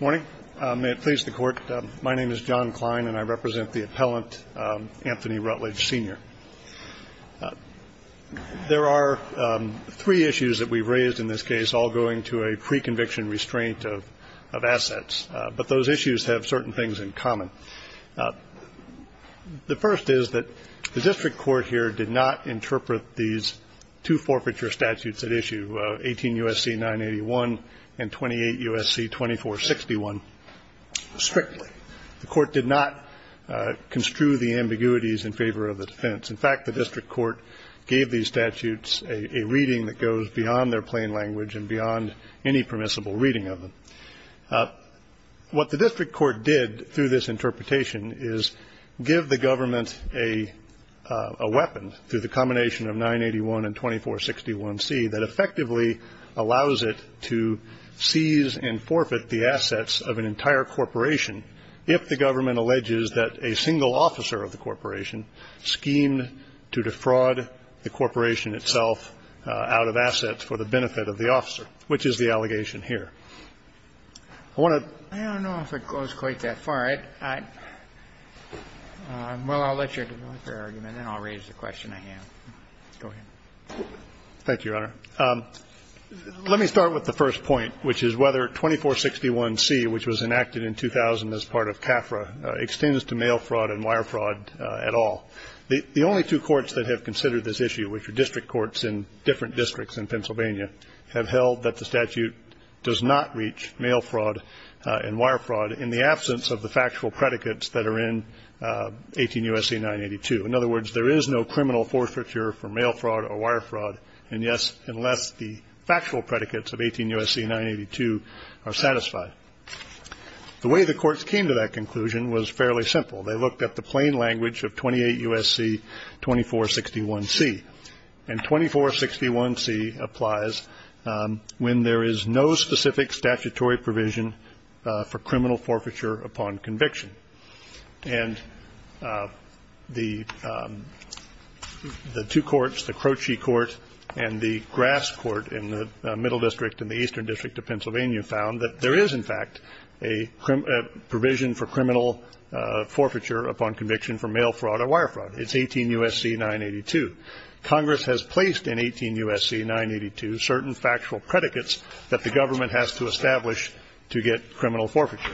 Morning. May it please the Court. My name is John Klein, and I represent the appellant Anthony Rutledge Sr. There are three issues that we've raised in this case, all going to a pre-conviction restraint of assets. But those issues have certain things in common. The first is that the district court here did not interpret these two forfeiture statutes at issue, 18 U.S.C. 981 and 28 U.S.C. 2461, strictly. The court did not construe the ambiguities in favor of the defense. In fact, the district court gave these statutes a reading that goes beyond their plain language and beyond any permissible reading of them. What the district court did through this interpretation is give the government a weapon, through the combination of 981 and 2461C, that effectively allows it to seize and forfeit the assets of an entire corporation if the government alleges that a single officer of the corporation schemed to defraud the corporation itself out of assets for the benefit of the officer, which is the allegation here. I want to ---- Well, I'll let your argument and then I'll raise the question I have. Go ahead. Thank you, Your Honor. Let me start with the first point, which is whether 2461C, which was enacted in 2000 as part of CAFRA, extends to mail fraud and wire fraud at all. The only two courts that have considered this issue, which are district courts in different districts in Pennsylvania, have held that the statute does not reach mail fraud and wire fraud in the absence of the factual predicates that are in 18 U.S.C. 982. In other words, there is no criminal forfeiture for mail fraud or wire fraud, and, yes, unless the factual predicates of 18 U.S.C. 982 are satisfied. The way the courts came to that conclusion was fairly simple. They looked at the plain language of 28 U.S.C. 2461C. And 2461C applies when there is no specific statutory provision for criminal forfeiture upon conviction. And the two courts, the Croce Court and the Grass Court in the Middle District and the Eastern District of Pennsylvania, found that there is, in fact, a provision for criminal forfeiture upon conviction for mail fraud or wire fraud. It's 18 U.S.C. 982. Congress has placed in 18 U.S.C. 982 certain factual predicates that the government has to establish to get criminal forfeiture.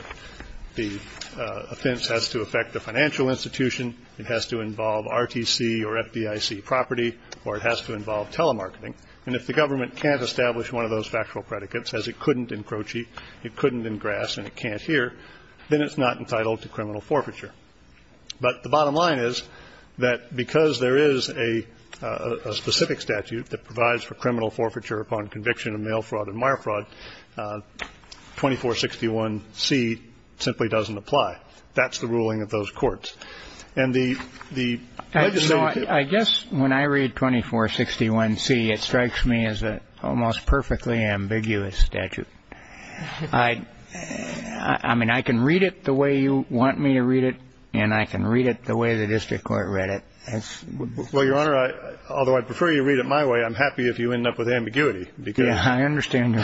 The offense has to affect the financial institution. It has to involve RTC or FDIC property, or it has to involve telemarketing. And if the government can't establish one of those factual predicates, as it couldn't in Croce, it couldn't in Grass, and it can't here, then it's not entitled to criminal forfeiture. But the bottom line is that because there is a specific statute that provides for criminal forfeiture upon conviction of mail fraud and wire fraud, 2461C simply doesn't apply. That's the ruling of those courts. I guess when I read 2461C, it strikes me as an almost perfectly ambiguous statute. I mean, I can read it the way you want me to read it, and I can read it the way the district court read it. Well, Your Honor, although I prefer you read it my way, I'm happy if you end up with ambiguity. Yeah, I understand.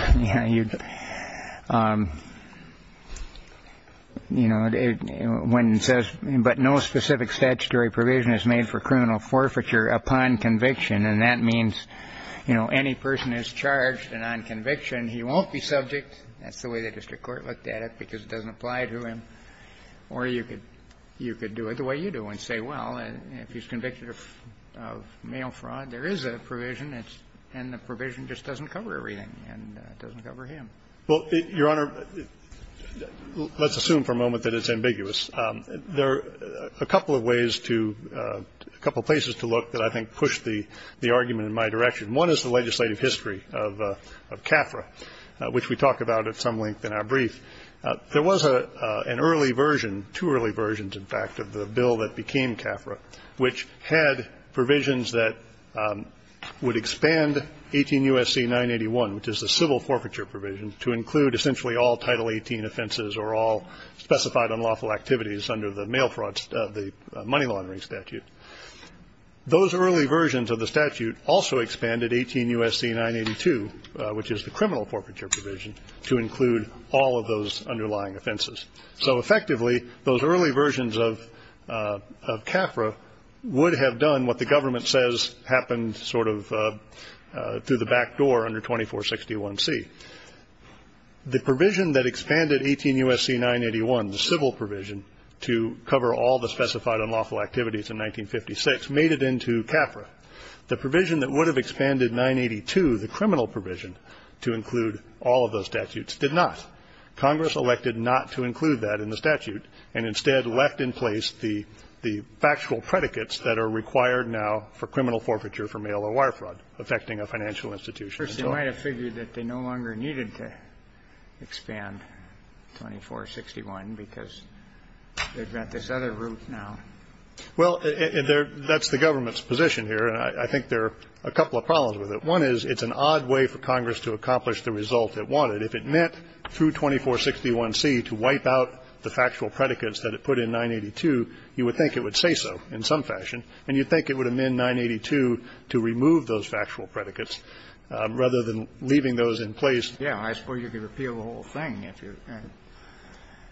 You know, when it says, but no specific statutory provision is made for criminal forfeiture upon conviction, and that means, you know, any person who's charged and on conviction, he won't be subject. That's the way the district court looked at it because it doesn't apply to him. Or you could do it the way you do and say, well, if he's convicted of mail fraud, there is a provision, and the provision just doesn't cover everything, and it doesn't cover him. Well, Your Honor, let's assume for a moment that it's ambiguous. There are a couple of ways to, a couple of places to look that I think push the argument in my direction. One is the legislative history of CAFRA, which we talk about at some length in our brief. There was an early version, two early versions, in fact, of the bill that became CAFRA, which had provisions that would expand 18 U.S.C. 981, which is the civil forfeiture provision, to include essentially all Title 18 offenses or all specified unlawful activities under the mail fraud, the money laundering statute. Those early versions of the statute also expanded 18 U.S.C. 982, which is the criminal forfeiture provision, to include all of those underlying offenses. So, effectively, those early versions of CAFRA would have done what the government says happened sort of through the back door under 2461C. The provision that expanded 18 U.S.C. 981, the civil provision to cover all the specified unlawful activities in 1956, made it into CAFRA. The provision that would have expanded 982, the criminal provision, to include all of those statutes did not. Congress elected not to include that in the statute and instead left in place the factual predicates that are required now for criminal forfeiture for mail or wire fraud affecting a financial institution. Kennedy. First, they might have figured that they no longer needed to expand 2461 because they've got this other route now. Well, that's the government's position here, and I think there are a couple of problems with it. One is it's an odd way for Congress to accomplish the result it wanted. If it meant through 2461C to wipe out the factual predicates that it put in 982, you would think it would say so in some fashion, and you'd think it would amend 982 to remove those factual predicates rather than leaving those in place. Yeah. I suppose you could repeal the whole thing if you're going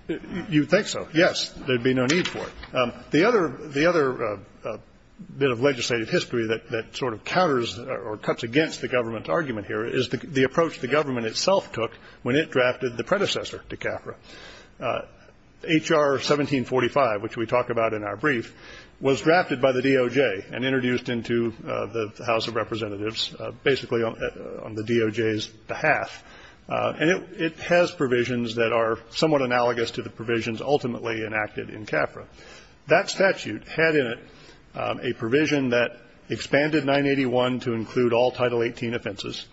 to. You'd think so, yes. There'd be no need for it. The other bit of legislative history that sort of counters or cuts against the government's predecessor to CAFRA. H.R. 1745, which we talk about in our brief, was drafted by the DOJ and introduced into the House of Representatives basically on the DOJ's behalf. And it has provisions that are somewhat analogous to the provisions ultimately enacted in CAFRA. That statute had in it a provision that expanded 981 to include all Title 18 offenses.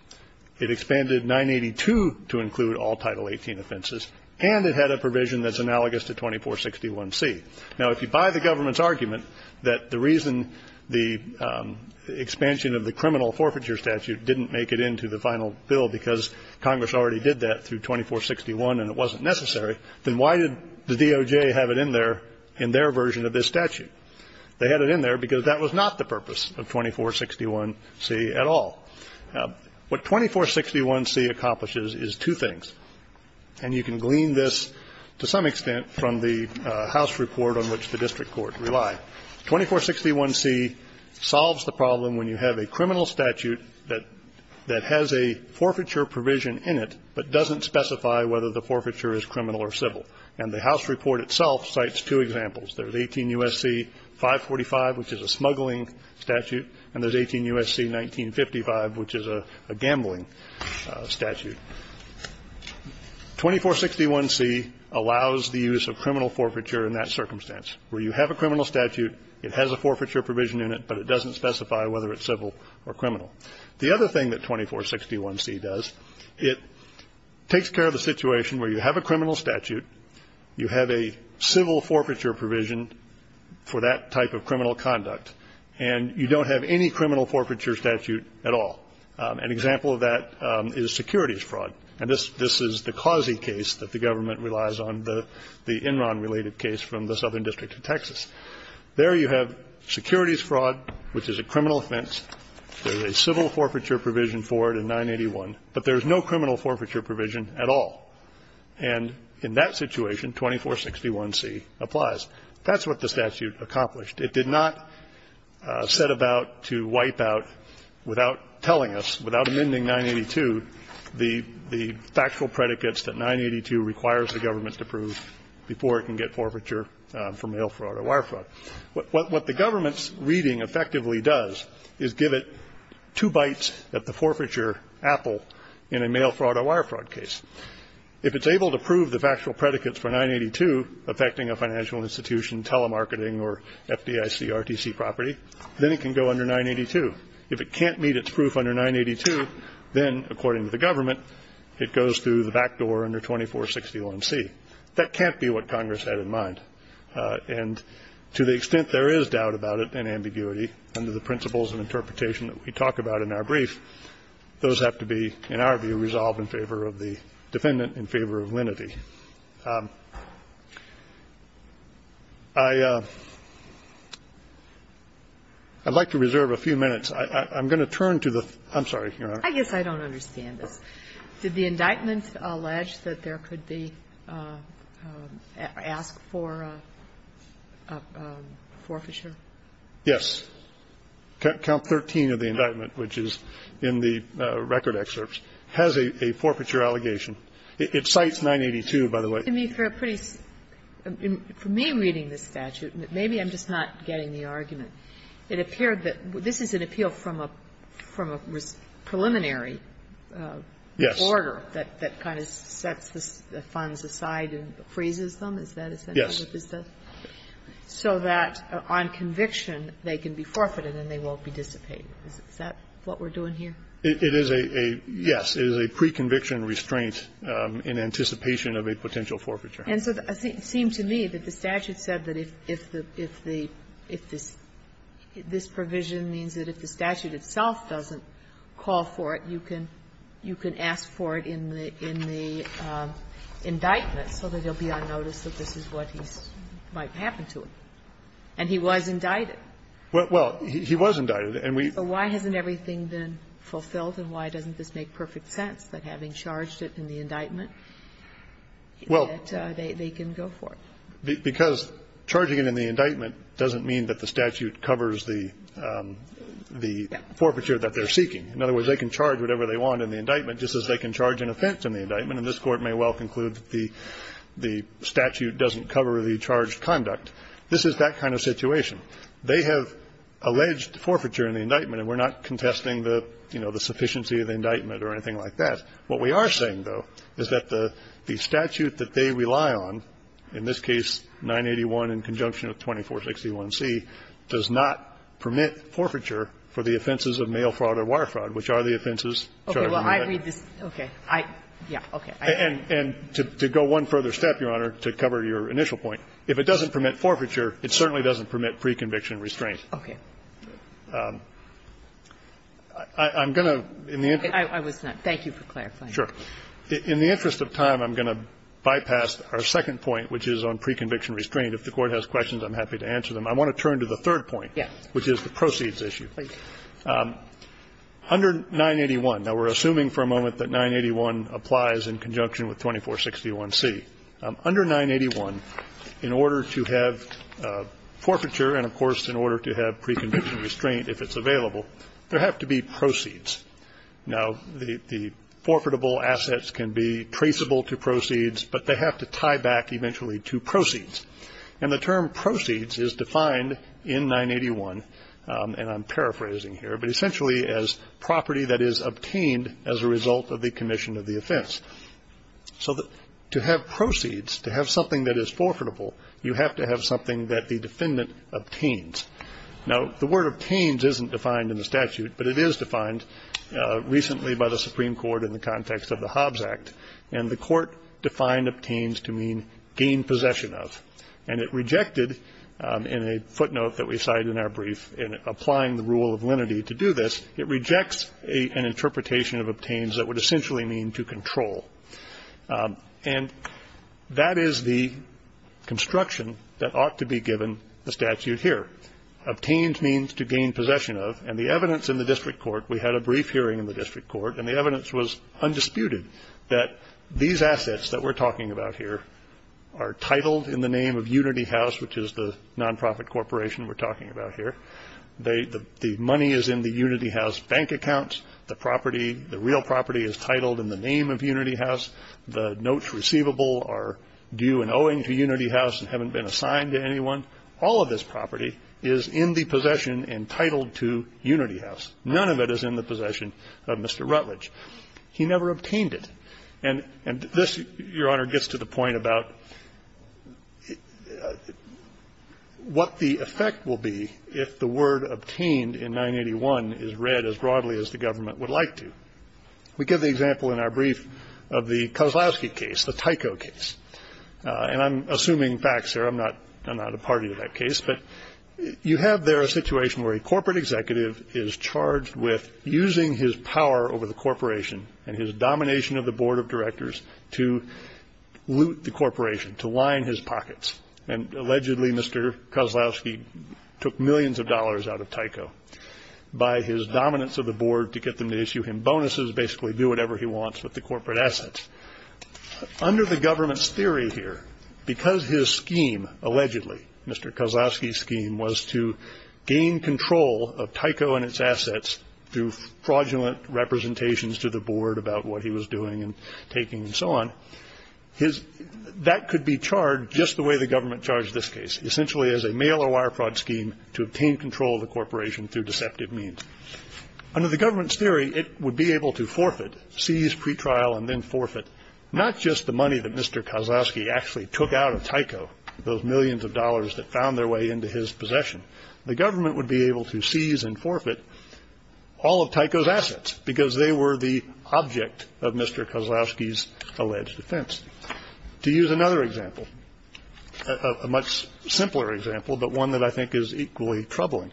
It expanded 982 to include all Title 18 offenses. And it had a provision that's analogous to 2461C. Now, if you buy the government's argument that the reason the expansion of the criminal forfeiture statute didn't make it into the final bill because Congress already did that through 2461 and it wasn't necessary, then why did the DOJ have it in there in their version of this statute? They had it in there because that was not the purpose of 2461C at all. What 2461C accomplishes is two things. And you can glean this to some extent from the House report on which the district court relied. 2461C solves the problem when you have a criminal statute that has a forfeiture provision in it but doesn't specify whether the forfeiture is criminal or civil. And the House report itself cites two examples. There's 18 U.S.C. 545, which is a smuggling statute. And there's 18 U.S.C. 1955, which is a gambling statute. 2461C allows the use of criminal forfeiture in that circumstance, where you have a criminal statute, it has a forfeiture provision in it, but it doesn't specify whether it's civil or criminal. The other thing that 2461C does, it takes care of the situation where you have a criminal statute, you have a civil forfeiture provision for that type of criminal conduct, and you don't have any criminal forfeiture statute at all. An example of that is securities fraud. And this is the Causey case that the government relies on, the Enron-related case from the Southern District of Texas. There you have securities fraud, which is a criminal offense. There's a civil forfeiture provision for it in 981, but there's no criminal forfeiture provision at all. And in that situation, 2461C applies. That's what the statute accomplished. It did not set about to wipe out, without telling us, without amending 982, the factual predicates that 982 requires the government to prove before it can get forfeiture for mail fraud or wire fraud. What the government's reading effectively does is give it two bites at the forfeiture apple in a mail fraud or wire fraud case. If it's able to prove the factual predicates for 982, affecting a financial institution, telemarketing, or FDIC, RTC property, then it can go under 982. If it can't meet its proof under 982, then, according to the government, it goes through the back door under 2461C. That can't be what Congress had in mind. And to the extent there is doubt about it and ambiguity under the principles and interpretation that we talk about in our brief, those have to be, in our view, resolved in favor of the defendant, in favor of lenity. I'd like to reserve a few minutes. I'm going to turn to the third. I'm sorry, Your Honor. I guess I don't understand this. Did the indictment allege that there could be asked for a forfeiture? Yes. Count 13 of the indictment, which is in the record excerpts, has a forfeiture allegation. It cites 982, by the way. For me, reading this statute, maybe I'm just not getting the argument. It appeared that this is an appeal from a preliminary order that kind of sets the Is that essential? Yes. So that on conviction, they can be forfeited and they won't be dissipated. Is that what we're doing here? It is a, yes. It is a pre-conviction restraint in anticipation of a potential forfeiture. And so it seemed to me that the statute said that if the, if the, if this, this provision means that if the statute itself doesn't call for it, you can, you can ask for it in the, in the indictment so that he'll be on notice that this is what he's, might happen to him. And he was indicted. Well, he was indicted, and we So why hasn't everything been fulfilled, and why doesn't this make perfect sense, that having charged it in the indictment, that they can go for it? Because charging it in the indictment doesn't mean that the statute covers the, the forfeiture that they're seeking. In other words, they can charge whatever they want in the indictment, just as they can charge an offense in the indictment, and this Court may well conclude that the statute doesn't cover the charged conduct. This is that kind of situation. They have alleged forfeiture in the indictment, and we're not contesting the, you know, the sufficiency of the indictment or anything like that. What we are saying, though, is that the statute that they rely on, in this case 981 in conjunction with 2461C, does not permit forfeiture for the offenses of mail fraud or wire fraud, which are the offenses charged in the indictment. And to go one further step, Your Honor, to cover your initial point, if it doesn't permit forfeiture, it certainly doesn't permit pre-conviction restraint. I'm going to, in the interest of time, I'm going to bypass our second point, which I'm happy to answer them. I want to turn to the third point, which is the proceeds issue. Under 981, now, we're assuming for a moment that 981 applies in conjunction with 2461C. Under 981, in order to have forfeiture and, of course, in order to have pre-conviction restraint, if it's available, there have to be proceeds. Now, the forfeitable assets can be traceable to proceeds, but they have to tie back eventually to proceeds. And the term proceeds is defined in 981, and I'm paraphrasing here, but essentially as property that is obtained as a result of the commission of the offense. So to have proceeds, to have something that is forfeitable, you have to have something that the defendant obtains. Now, the word obtains isn't defined in the statute, but it is defined recently by the Supreme Court in the context of the Hobbs Act. And the court defined obtains to mean gain possession of. And it rejected, in a footnote that we cited in our brief, in applying the rule of lenity to do this, it rejects an interpretation of obtains that would essentially mean to control. And that is the construction that ought to be given the statute here. Obtains means to gain possession of. And the evidence in the district court, we had a brief hearing in the district court, and the evidence was undisputed that these assets that we're talking about here are titled in the name of Unity House, which is the nonprofit corporation we're talking about here. The money is in the Unity House bank accounts. The property, the real property, is titled in the name of Unity House. The notes receivable are due and owing to Unity House and haven't been assigned to anyone. All of this property is in the possession and titled to Unity House. None of it is in the possession of Mr. Rutledge. He never obtained it. And this, Your Honor, gets to the point about what the effect will be if the word obtained in 981 is read as broadly as the government would like to. We give the example in our brief of the Kozlowski case, the Tyco case. And I'm assuming facts here. I'm not a party to that case. But you have there a situation where a corporate executive is charged with using his power over the corporation and his domination of the board of directors to loot the corporation, to line his pockets. And allegedly Mr. Kozlowski took millions of dollars out of Tyco by his dominance of the board to get them to issue him bonuses, basically do whatever he wants with the corporate assets. Under the government's theory here, because his scheme, allegedly Mr. Kozlowski's scheme, was to gain control of Tyco and its assets through fraudulent representations to the board about what he was doing and taking and so on, that could be charged just the way the government charged this case, essentially as a mail-or-wire fraud scheme to obtain control of the corporation through deceptive means. Under the government's theory, it would be able to forfeit, seize, pretrial, and then forfeit, not just the money that Mr. Kozlowski actually took out of Tyco, those millions of dollars that found their way into his possession. The government would be able to seize and forfeit all of Tyco's assets because they were the object of Mr. Kozlowski's alleged offense. To use another example, a much simpler example, but one that I think is equally troubling,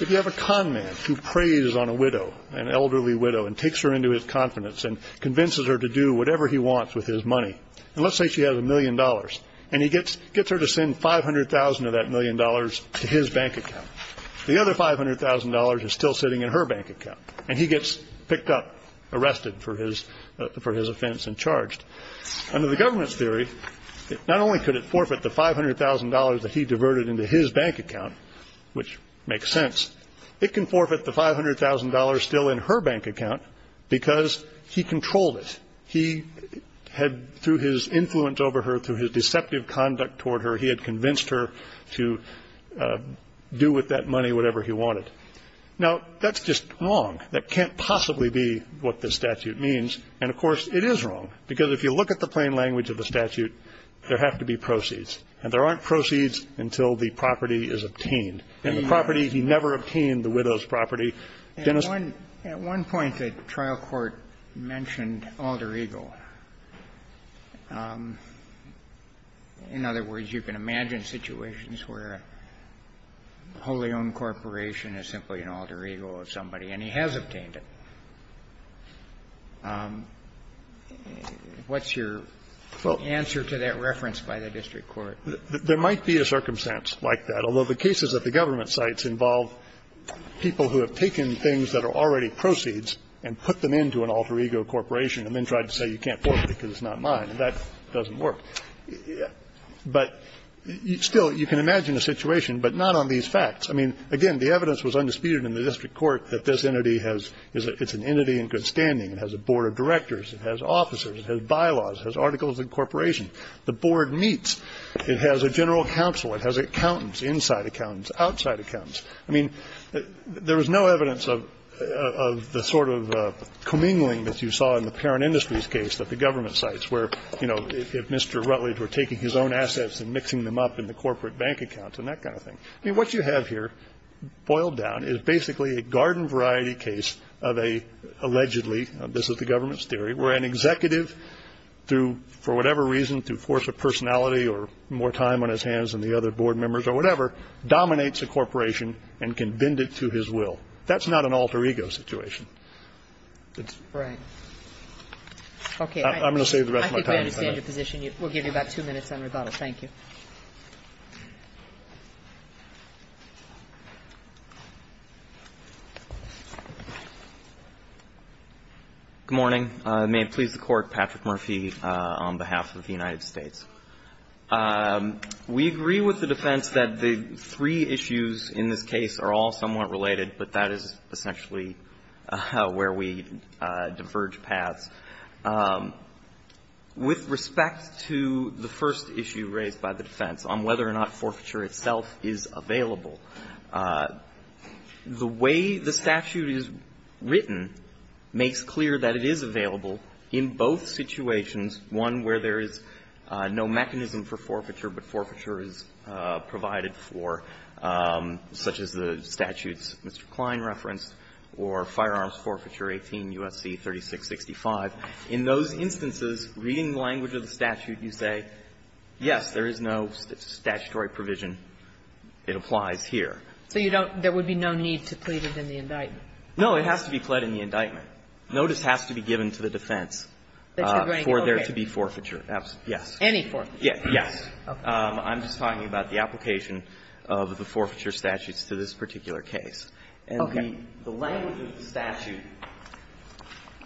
if you have a con man who preys on a widow, an elderly widow, and takes her into his confidence and convinces her to do whatever he wants with his money, and let's say she has a million dollars, and he gets her to send $500,000 of that million dollars to his bank account. The other $500,000 is still sitting in her bank account, and he gets picked up, arrested for his offense, and charged. Under the government's theory, not only could it forfeit the $500,000 that he diverted into his bank account, which makes sense, it can forfeit the $500,000 still in her bank account because he controlled it. He had, through his influence over her, through his deceptive conduct toward her, he had convinced her to do with that money whatever he wanted. Now, that's just wrong. That can't possibly be what this statute means, and, of course, it is wrong, because if you look at the plain language of the statute, there have to be proceeds, and there aren't proceeds until the property is obtained. In the property, he never obtained the widow's property. Dennis? Kennedy. At one point, the trial court mentioned Alter Ego. In other words, you can imagine situations where a wholly owned corporation is simply an Alter Ego of somebody, and he has obtained it. What's your answer to that reference by the district court? There might be a circumstance like that, although the cases at the government sites involve people who have taken things that are already proceeds and put them into an Alter Ego corporation and then tried to say you can't forfeit it because it's not mine, and that doesn't work. But still, you can imagine a situation, but not on these facts. I mean, again, the evidence was undisputed in the district court that this entity has an entity in good standing. It has a board of directors. It has officers. It has bylaws. It has articles of incorporation. The board meets. It has a general counsel. It has accountants, inside accountants, outside accountants. I mean, there is no evidence of the sort of commingling that you saw in the Perron Industries case at the government sites where, you know, if Mr. Rutledge were taking his own assets and mixing them up in the corporate bank accounts and that kind of thing. I mean, what you have here, boiled down, is basically a garden variety case of an allegedly, this is the government's theory, where an executive through, for whatever reason, through force of personality or more time on his hands than the other board members or whatever, dominates a corporation and can bend it to his will. That's not an Alter Ego situation. It's not. Kagan. Okay. I'm going to save the rest of my time. I think we understand your position. We'll give you about two minutes on rebuttal. Thank you. Good morning. May it please the Court. Patrick Murphy on behalf of the United States. We agree with the defense that the three issues in this case are all somewhat related, but that is essentially where we diverge paths. With respect to the first issue raised by the defense on whether or not forfeiture itself is available, the way the statute is written makes clear that it is available in both situations, one where there is no mechanism for forfeiture, but forfeiture is provided for, such as the statutes Mr. Klein referenced, or Firearms Forfeiture 18 U.S.C. 3665. In those instances, reading the language of the statute, you say, yes, there is no statutory provision. It applies here. So you don't – there would be no need to plead it in the indictment. No. It has to be pled in the indictment. Notice has to be given to the defense for there to be forfeiture. Yes. Any forfeiture? Yes. Okay. I'm just talking about the application of the forfeiture statutes to this particular case. Okay. The language of the statute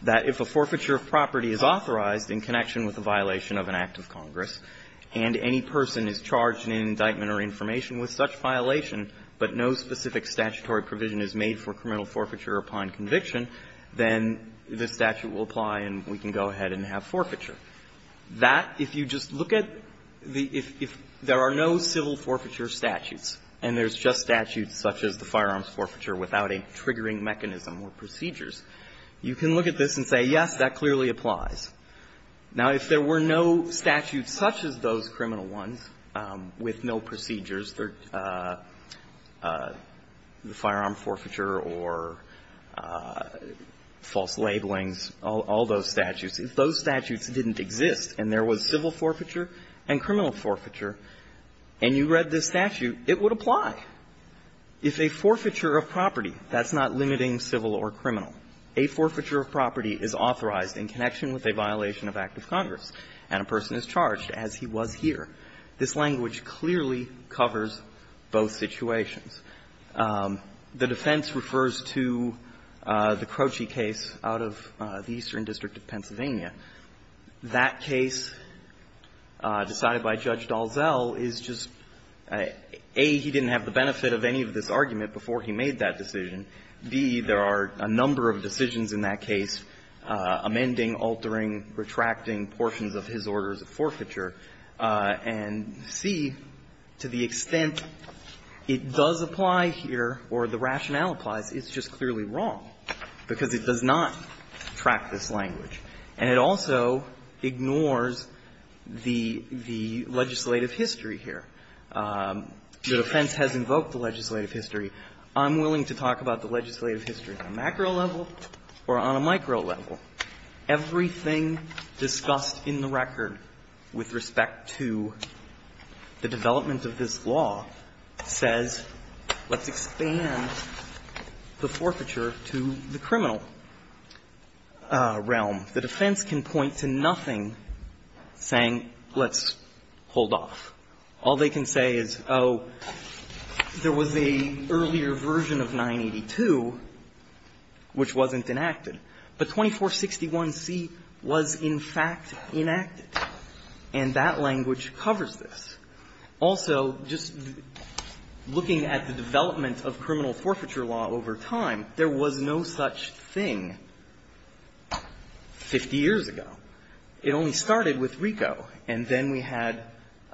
that if a forfeiture of property is authorized in connection with a violation of an act of Congress and any person is charged in an indictment or information with such violation, but no specific statutory provision is made for criminal forfeiture upon conviction, then the statute will apply and we can go ahead and have forfeiture. That, if you just look at the – if there are no civil forfeiture statutes and there's just statutes such as the firearms forfeiture without a triggering mechanism or procedures, you can look at this and say, yes, that clearly applies. Now, if there were no statutes such as those criminal ones with no procedures, the firearm forfeiture or false labelings, all those statutes, if those statutes didn't exist and there was civil forfeiture and criminal forfeiture and you read this statute, if a forfeiture of property, that's not limiting civil or criminal, a forfeiture of property is authorized in connection with a violation of act of Congress and a person is charged as he was here, this language clearly covers both situations. The defense refers to the Croci case out of the Eastern District of Pennsylvania. That case decided by Judge Dalzell is just, A, he didn't have the benefit of any of this argument before he made that decision, B, there are a number of decisions in that case amending, altering, retracting portions of his orders of forfeiture. And C, to the extent it does apply here or the rationale applies, it's just clearly wrong because it does not track this language. And it also ignores the legislative history here. The defense has invoked the legislative history. I'm willing to talk about the legislative history on a macro level or on a micro level. Everything discussed in the record with respect to the development of this law says, let's expand the forfeiture to the criminal realm. The defense can point to nothing saying let's hold off. All they can say is, oh, there was an earlier version of 982 which wasn't enacted. But 2461C was in fact enacted, and that language covers this. Also, just looking at the development of criminal forfeiture law over time, there was no such thing 50 years ago. It only started with RICO. And then we had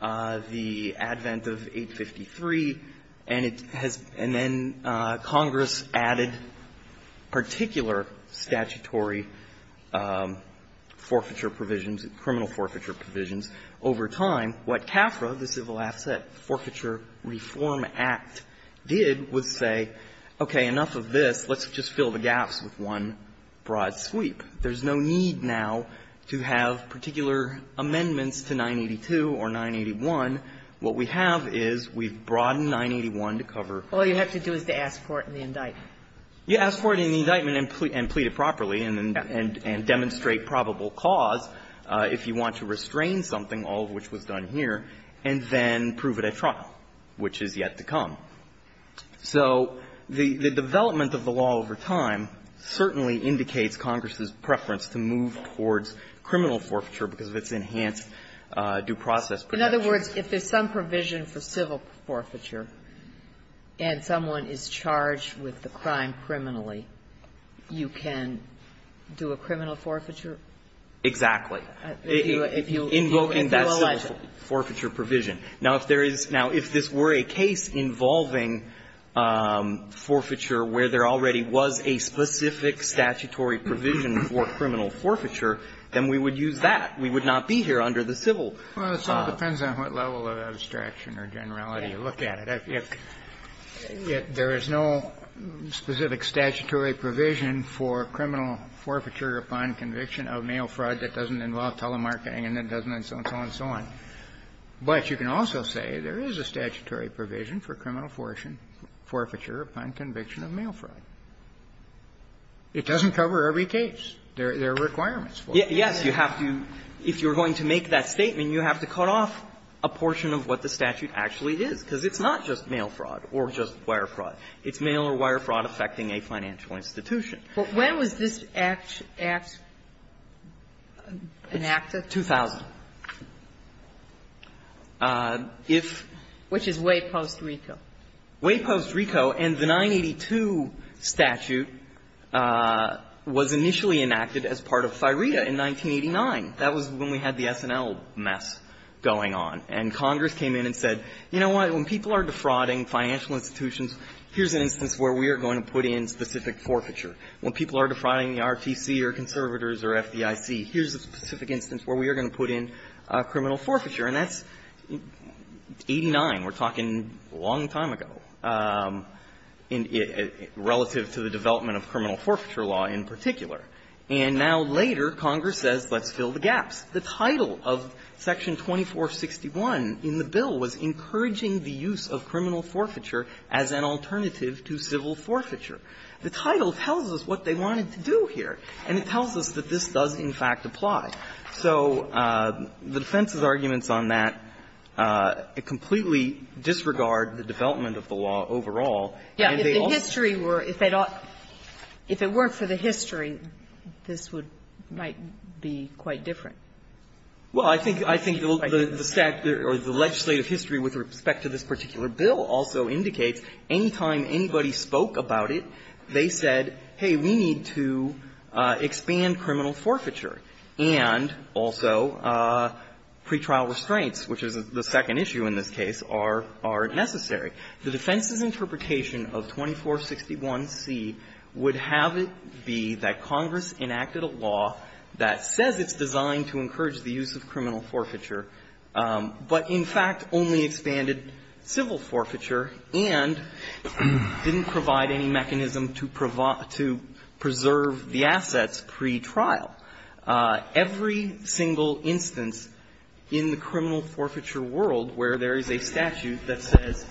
the advent of 853, and it has been then Congress added particular statutory forfeiture provisions, criminal forfeiture provisions over time. What CAFRA, the Civil Asset Forfeiture Reform Act, did was say, okay, enough of this. Let's just fill the gaps with one broad sweep. There's no need now to have particular amendments to 982 or 981. What we have is we've broadened 981 to cover. All you have to do is to ask for it in the indictment. You ask for it in the indictment and plead it properly and demonstrate probable cause if you want to restrain something, all of which was done here, and then prove it at trial, which is yet to come. So the development of the law over time certainly indicates Congress's preference to move towards criminal forfeiture because of its enhanced due process protections. Ginsburg. In other words, if there's some provision for civil forfeiture and someone is charged with the crime criminally, you can do a criminal forfeiture? Exactly. If you allege it. Forfeiture provision. Now, if there is now – if this were a case involving forfeiture where there already was a specific statutory provision for criminal forfeiture, then we would use that. We would not be here under the civil. Well, it sort of depends on what level of abstraction or generality you look at it. If there is no specific statutory provision for criminal forfeiture upon conviction of mail fraud that doesn't involve telemarketing and that doesn't and so on, so on. But you can also say there is a statutory provision for criminal forfeiture upon conviction of mail fraud. It doesn't cover every case. There are requirements for it. Yes. You have to – if you're going to make that statement, you have to cut off a portion of what the statute actually is, because it's not just mail fraud or just wire fraud. It's mail or wire fraud affecting a financial institution. But when was this act enacted? 2000. If – Which is way post-RICO. Way post-RICO. And the 982 statute was initially enacted as part of FIRETA in 1989. That was when we had the SNL mess going on. And Congress came in and said, you know what, when people are defrauding financial institutions, here's an instance where we are going to put in specific forfeiture. When people are defrauding the RTC or conservators or FDIC, here's a specific instance where we are going to put in criminal forfeiture. And that's 89. We're talking a long time ago, relative to the development of criminal forfeiture law in particular. And now later, Congress says, let's fill the gaps. The title of Section 2461 in the bill was encouraging the use of criminal forfeiture as an alternative to civil forfeiture. The title tells us what they wanted to do here. And it tells us that this does, in fact, apply. So the defense's arguments on that completely disregard the development And they also don't agree with it. If the history were – if it weren't for the history, this would – might be quite different. Well, I think – I think the legislative history with respect to this particular bill also indicates any time anybody spoke about it, they said, hey, we need to expand criminal forfeiture. And also, pretrial restraints, which is the second issue in this case, are necessary. The defense's interpretation of 2461c would have it be that Congress enacted a law that says it's designed to encourage the use of criminal forfeiture, but in fact only expanded civil forfeiture and didn't provide any mechanism to provide – to preserve the assets pretrial. Every single instance in the criminal forfeiture world where there is a statute that says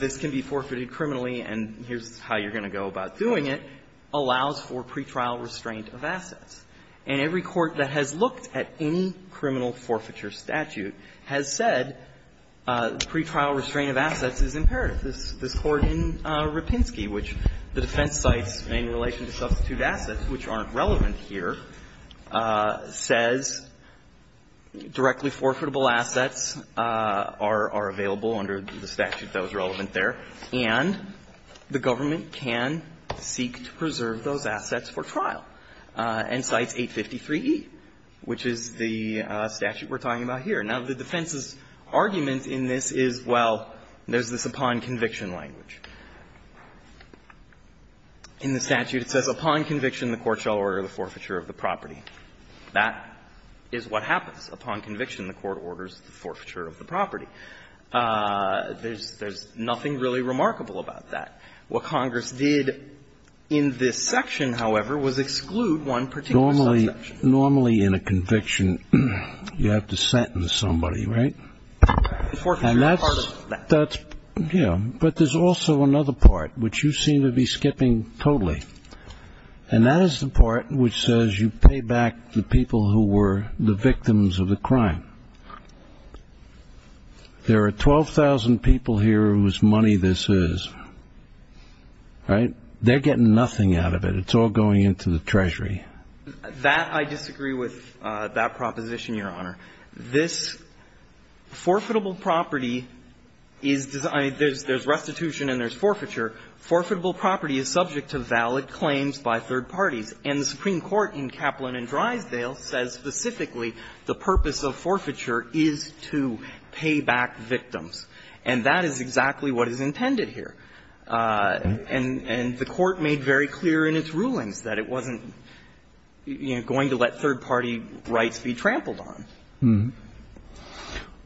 this can be forfeited criminally and here's how you're going to go about doing it, allows for pretrial restraint of assets. And every court that has looked at any criminal forfeiture statute has said pretrial restraint of assets is imperative. This – this Court in Rapinski, which the defense cites in relation to substitute assets which aren't relevant here, says directly forfeitable assets are – are available under the statute that was relevant there, and the government can seek to preserve those assets for trial, and cites 853e, which is the statute we're talking about here. Now, the defense's argument in this is, well, there's this upon conviction language. In the statute it says, upon conviction, the court shall order the forfeiture of the property. That is what happens. Upon conviction, the court orders the forfeiture of the property. There's – there's nothing really remarkable about that. What Congress did in this section, however, was exclude one particular subsection. Normally in a conviction, you have to sentence somebody, right? Forfeiture is part of that. That's – yeah. But there's also another part which you seem to be skipping totally, and that is the part which says you pay back the people who were the victims of the crime. There are 12,000 people here whose money this is, right? They're getting nothing out of it. It's all going into the Treasury. That – I disagree with that proposition, Your Honor. This forfeitable property is – I mean, there's restitution and there's forfeiture. Forfeitable property is subject to valid claims by third parties. And the Supreme Court in Kaplan and Drysdale says specifically the purpose of forfeiture is to pay back victims, and that is exactly what is intended here. And the court made very clear in its rulings that it wasn't, you know, going to let third-party rights be trampled on.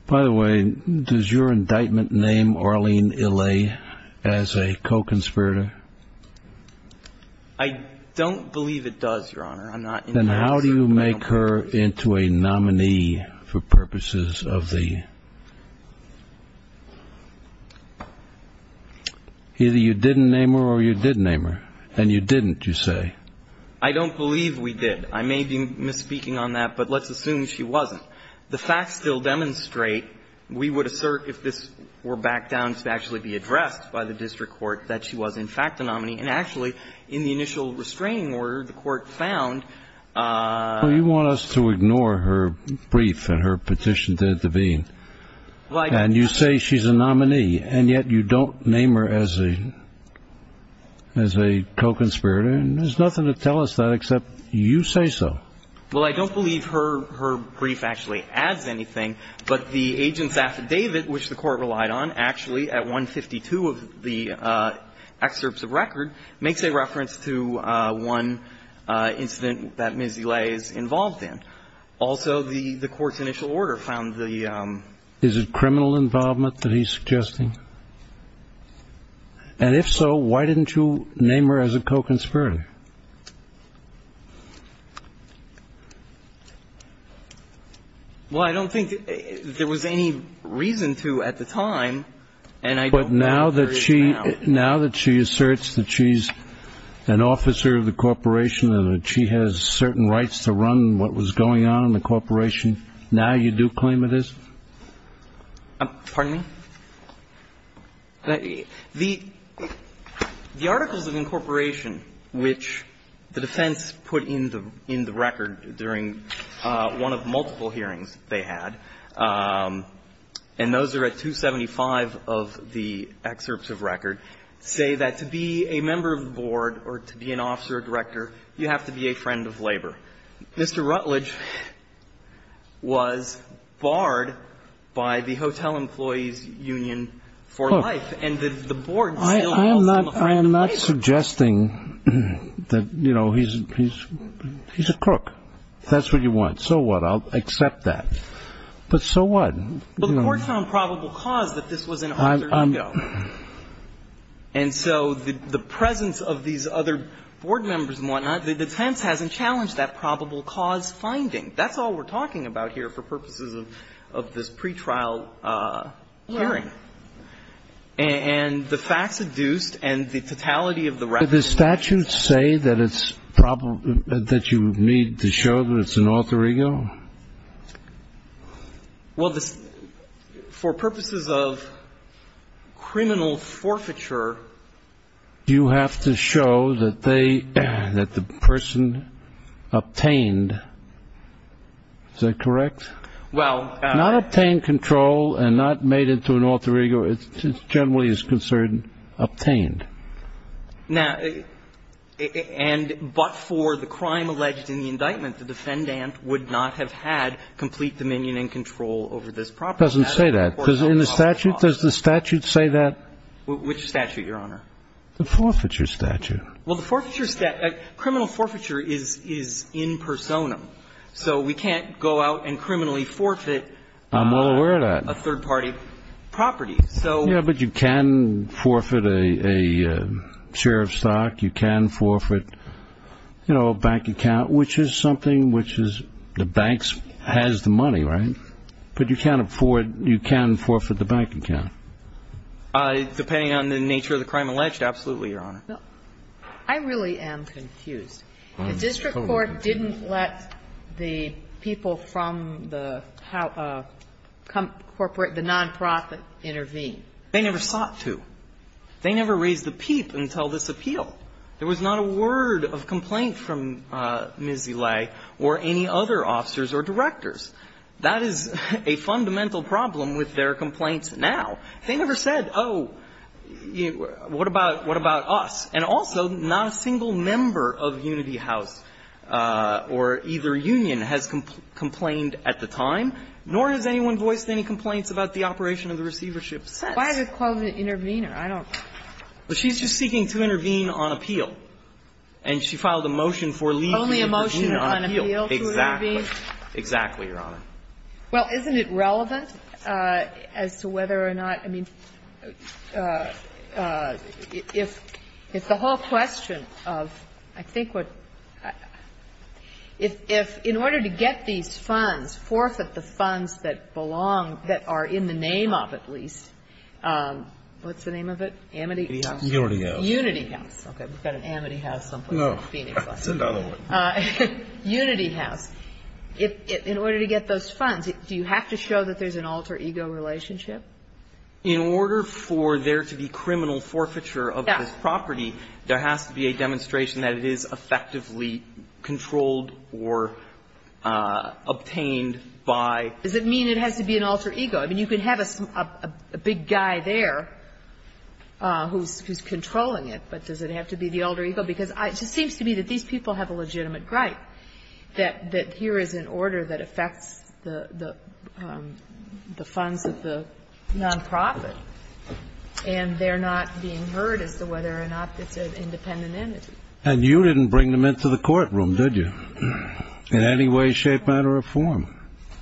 By the way, does your indictment name Arlene Illay as a co-conspirator? I don't believe it does, Your Honor. Then how do you make her into a nominee for purposes of the – either you didn't name her or you did name her, and you didn't, you say. I don't believe we did. I may be misspeaking on that, but let's assume she wasn't. The facts still demonstrate, we would assert if this were backed down to actually be addressed by the district court, that she was in fact a nominee. And actually, in the initial restraining order, the court found – Well, you want us to ignore her brief and her petition to intervene. And you say she's a nominee, and yet you don't name her as a co-conspirator. And there's nothing to tell us that except you say so. Well, I don't believe her brief actually adds anything, but the agent's affidavit, which the court relied on, actually, at 152 of the excerpts of record, makes a reference to one incident that Ms. Illay is involved in. Also, the court's initial order found the – Is it criminal involvement that he's suggesting? And if so, why didn't you name her as a co-conspirator? Well, I don't think there was any reason to at the time, and I don't know if there is now. But now that she – now that she asserts that she's an officer of the corporation and that she has certain rights to run what was going on in the corporation, now you do claim it is? Pardon me? The articles of incorporation which the defense put in the record during one of multiple hearings they had, and those are at 275 of the excerpts of record, say that to be a member of the board or to be an officer or director, you have to be a friend of labor. Mr. Rutledge was barred by the Hotel Employees Union for life. And the board still held him a friend of labor. I am not suggesting that, you know, he's a crook. If that's what you want, so what? I'll accept that. But so what? But the board found probable cause that this was an officer of labor. And so the presence of these other board members and whatnot, the defense hasn't challenged that probable cause finding. That's all we're talking about here for purposes of this pretrial hearing. And the facts adduced and the totality of the record. Do the statutes say that it's probable – that you need to show that it's an alter ego? Well, for purposes of criminal forfeiture, you have to show that they – that the person obtained – is that correct? Well – Not obtained control and not made into an alter ego. It generally is concerned obtained. Now – and but for the crime alleged in the indictment, the defendant would not have had complete dominion and control over this property. It doesn't say that. Because in the statute, does the statute say that? Which statute, Your Honor? The forfeiture statute. Well, the forfeiture – criminal forfeiture is in personam. So we can't go out and criminally forfeit – I'm aware of that. A third-party property. So – Yeah, but you can forfeit a share of stock. You can forfeit, you know, a bank account, which is something which is – the bank has the money, right? But you can't afford – you can forfeit the bank account. Depending on the nature of the crime alleged, absolutely, Your Honor. I really am confused. The district court didn't let the people from the corporate – the nonprofit intervene. They never sought to. They never raised a peep until this appeal. There was not a word of complaint from Ms. Elay or any other officers or directors. That is a fundamental problem with their complaints now. They never said, oh, what about us? And also, not a single member of Unity House or either union has complained at the time, nor has anyone voiced any complaints about the operation of the receivership since. Why did it call an intervener? I don't – Well, she's just seeking to intervene on appeal. And she filed a motion for leave to intervene on appeal. Only a motion on appeal to intervene? Exactly. Exactly, Your Honor. Well, isn't it relevant as to whether or not – I mean, if the whole question of – I think what – if in order to get these funds, forfeit the funds that belong – that are in the name of, at least – what's the name of it? Amity House? Unity House. Unity House. Okay. We've got an Amity House someplace in Phoenix. No. That's another one. Unity House. In order to get those funds, do you have to show that there's an alter ego relationship? In order for there to be criminal forfeiture of this property, there has to be a demonstration that it is effectively controlled or obtained by – Does it mean it has to be an alter ego? I mean, you can have a big guy there who's controlling it, but does it have to be the alter ego? Because it just seems to me that these people have a legitimate gripe that here is an order that affects the funds of the nonprofit, and they're not being heard as to whether or not it's an independent entity. And you didn't bring them into the courtroom, did you, in any way, shape, matter, or form?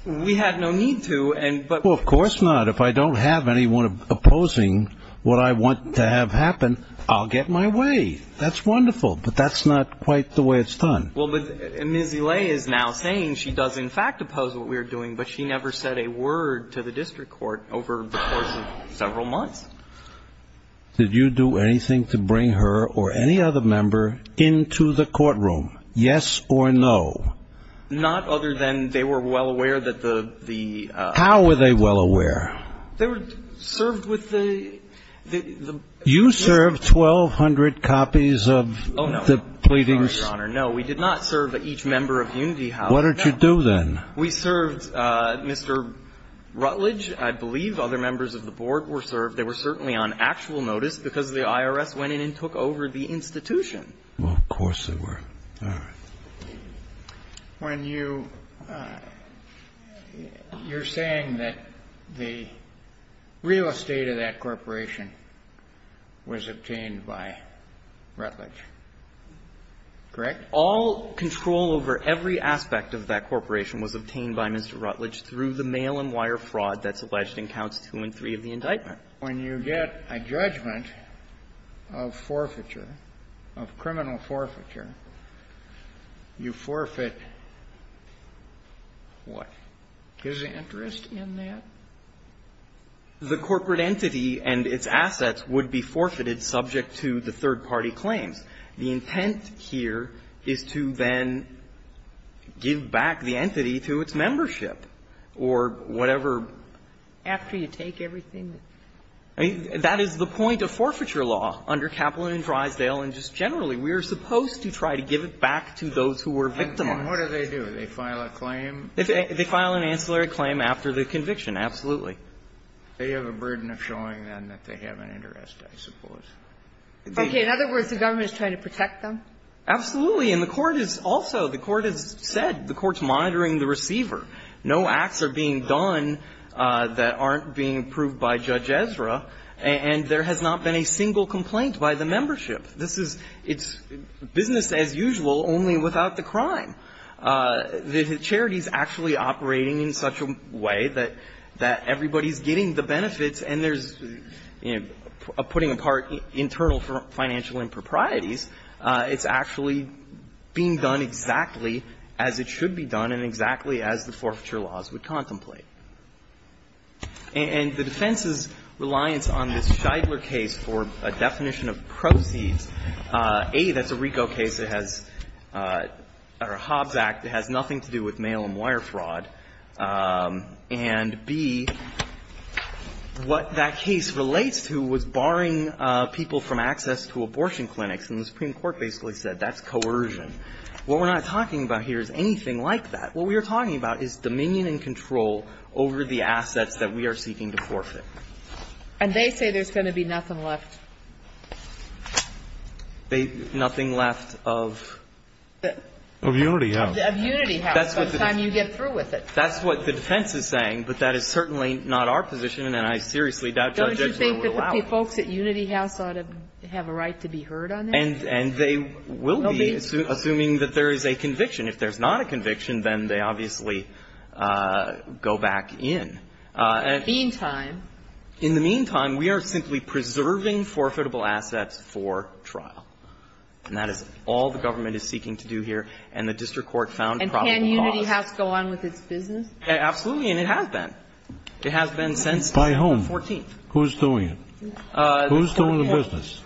We had no need to, but – Well, of course not. If I don't have anyone opposing what I want to have happen, I'll get my way. That's wonderful, but that's not quite the way it's done. Well, but Ms. Elay is now saying she does, in fact, oppose what we're doing, but she never said a word to the district court over the course of several months. Did you do anything to bring her or any other member into the courtroom, yes or no? Not other than they were well aware that the – How were they well aware? They were served with the – You served 1,200 copies of the pleadings? Oh, no, Your Honor, no. We did not serve each member of Unity House. What did you do then? We served Mr. Rutledge. I believe other members of the board were served. They were certainly on actual notice because the IRS went in and took over the institution. Well, of course they were. All right. When you – you're saying that the real estate of that corporation was obtained by Rutledge, correct? All control over every aspect of that corporation was obtained by Mr. Rutledge through the mail-and-wire fraud that's alleged in Counts 2 and 3 of the indictment. When you get a judgment of forfeiture, of criminal forfeiture, you forfeit what? His interest in that? The corporate entity and its assets would be forfeited subject to the third-party claims. The intent here is to then give back the entity to its membership or whatever after you take everything. I mean, that is the point of forfeiture law under Kaplan and Drysdale. And just generally, we are supposed to try to give it back to those who were victimized. And what do they do? They file a claim? They file an ancillary claim after the conviction, absolutely. They have a burden of showing then that they have an interest, I suppose. Okay. In other words, the government is trying to protect them? Absolutely. And the Court is also – the Court has said the Court's monitoring the receiver. No acts are being done that aren't being approved by Judge Ezra. And there has not been a single complaint by the membership. This is – it's business as usual, only without the crime. The charity's actually operating in such a way that everybody's getting the benefits and there's, you know, putting apart internal financial improprieties. It's actually being done exactly as it should be done and exactly as the forfeiture laws would contemplate. And the defense's reliance on this Scheidler case for a definition of proceeds, A, that's a RICO case. It has – or a Hobbs Act. It has nothing to do with mail and wire fraud. And, B, what that case relates to was barring people from access to abortion clinics. And the Supreme Court basically said that's coercion. What we're not talking about here is anything like that. What we are talking about is dominion and control over the assets that we are seeking to forfeit. And they say there's going to be nothing left? They – nothing left of? Of Unity House. Of Unity House by the time you get through with it. That's what the defense is saying, but that is certainly not our position and I seriously doubt Judge Ezra would allow it. Don't you think that the folks at Unity House ought to have a right to be heard on that? And they will be, assuming that there is a conviction. If there's not a conviction, then they obviously go back in. Meantime? In the meantime, we are simply preserving forfeitable assets for trial. And that is all the government is seeking to do here, and the district court found probable cause. And can Unity House go on with its business? Absolutely, and it has been. It has been since the 14th. By whom? Who's doing it? Who's doing the business?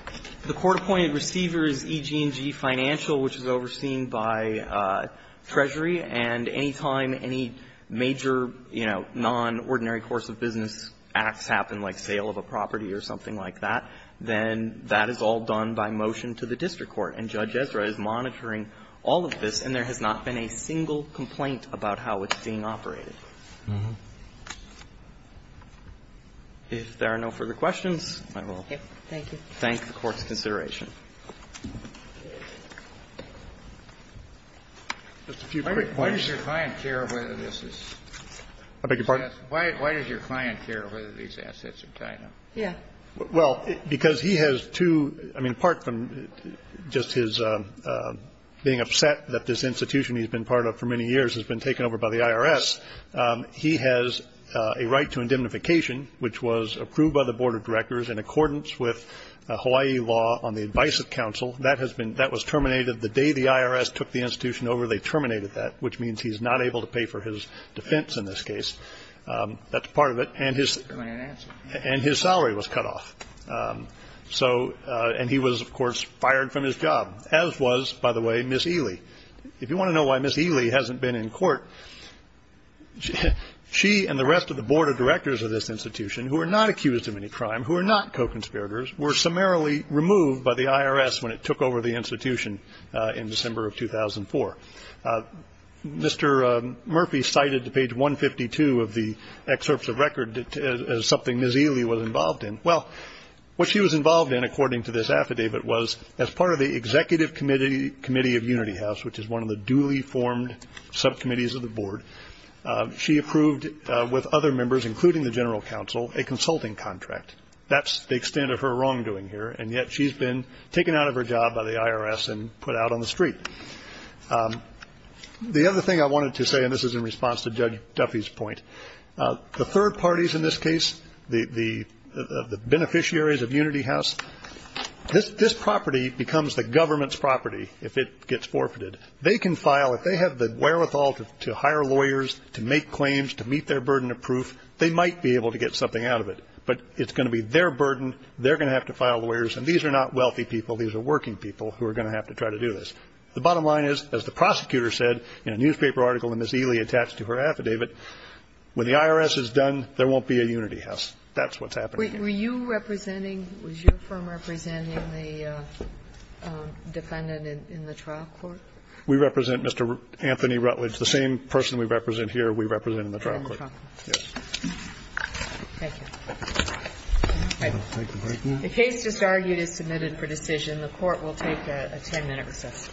The court-appointed receiver is EG&G Financial, which is overseen by Treasury. And any time any major, you know, non-ordinary course of business acts happen, like sale of a property or something like that, then that is all done by motion to the district court. And Judge Ezra is monitoring all of this, and there has not been a single complaint about how it's being operated. If there are no further questions, I will. Thank you. Thank the Court's consideration. Just a few quick questions. Why does your client care whether this is? I beg your pardon? Why does your client care whether these assets are tied up? Yeah. Well, because he has two, I mean, apart from just his being upset that this institution he's been part of for many years has been taken over by the IRS, he has a right to indemnification, which was approved by the Board of Directors in accordance with Hawaii law on the advice of counsel. That has been, that was terminated the day the IRS took the institution over. They terminated that, which means he's not able to pay for his defense in this case. That's part of it. And his salary was cut off. So, and he was, of course, fired from his job, as was, by the way, Ms. Ely. If you want to know why Ms. Ely hasn't been in court, she and the rest of the Board of Directors of this institution, who are not accused of any crime, who are not co-conspirators, were summarily removed by the IRS when it took over the institution in December of 2004. Mr. Murphy cited to page 152 of the excerpts of record as something Ms. Ely was involved in. Well, what she was involved in, according to this affidavit, was as part of the Executive Committee of Unity House, which is one of the duly formed subcommittees of the Board, she approved with other members, including the General Counsel, a consulting contract. That's the extent of her wrongdoing here, and yet she's been taken out of her job by the IRS and put out on the street. The other thing I wanted to say, and this is in response to Judge Duffy's point, the third parties in this case, the beneficiaries of Unity House, this property becomes the government's property if it gets forfeited. They can file, if they have the wherewithal to hire lawyers, to make claims, to meet their burden of proof, they might be able to get something out of it. But it's going to be their burden. They're going to have to file lawyers. And these are not wealthy people. These are working people who are going to have to try to do this. The bottom line is, as the prosecutor said in a newspaper article that Ms. Ely attached to her affidavit, when the IRS is done, there won't be a Unity House. That's what's happening. Were you representing, was your firm representing the defendant in the trial court? We represent Mr. Anthony Rutledge, the same person we represent here, we represent in the trial court. Thank you. The case just argued is submitted for decision. The Court will take a 10-minute recess.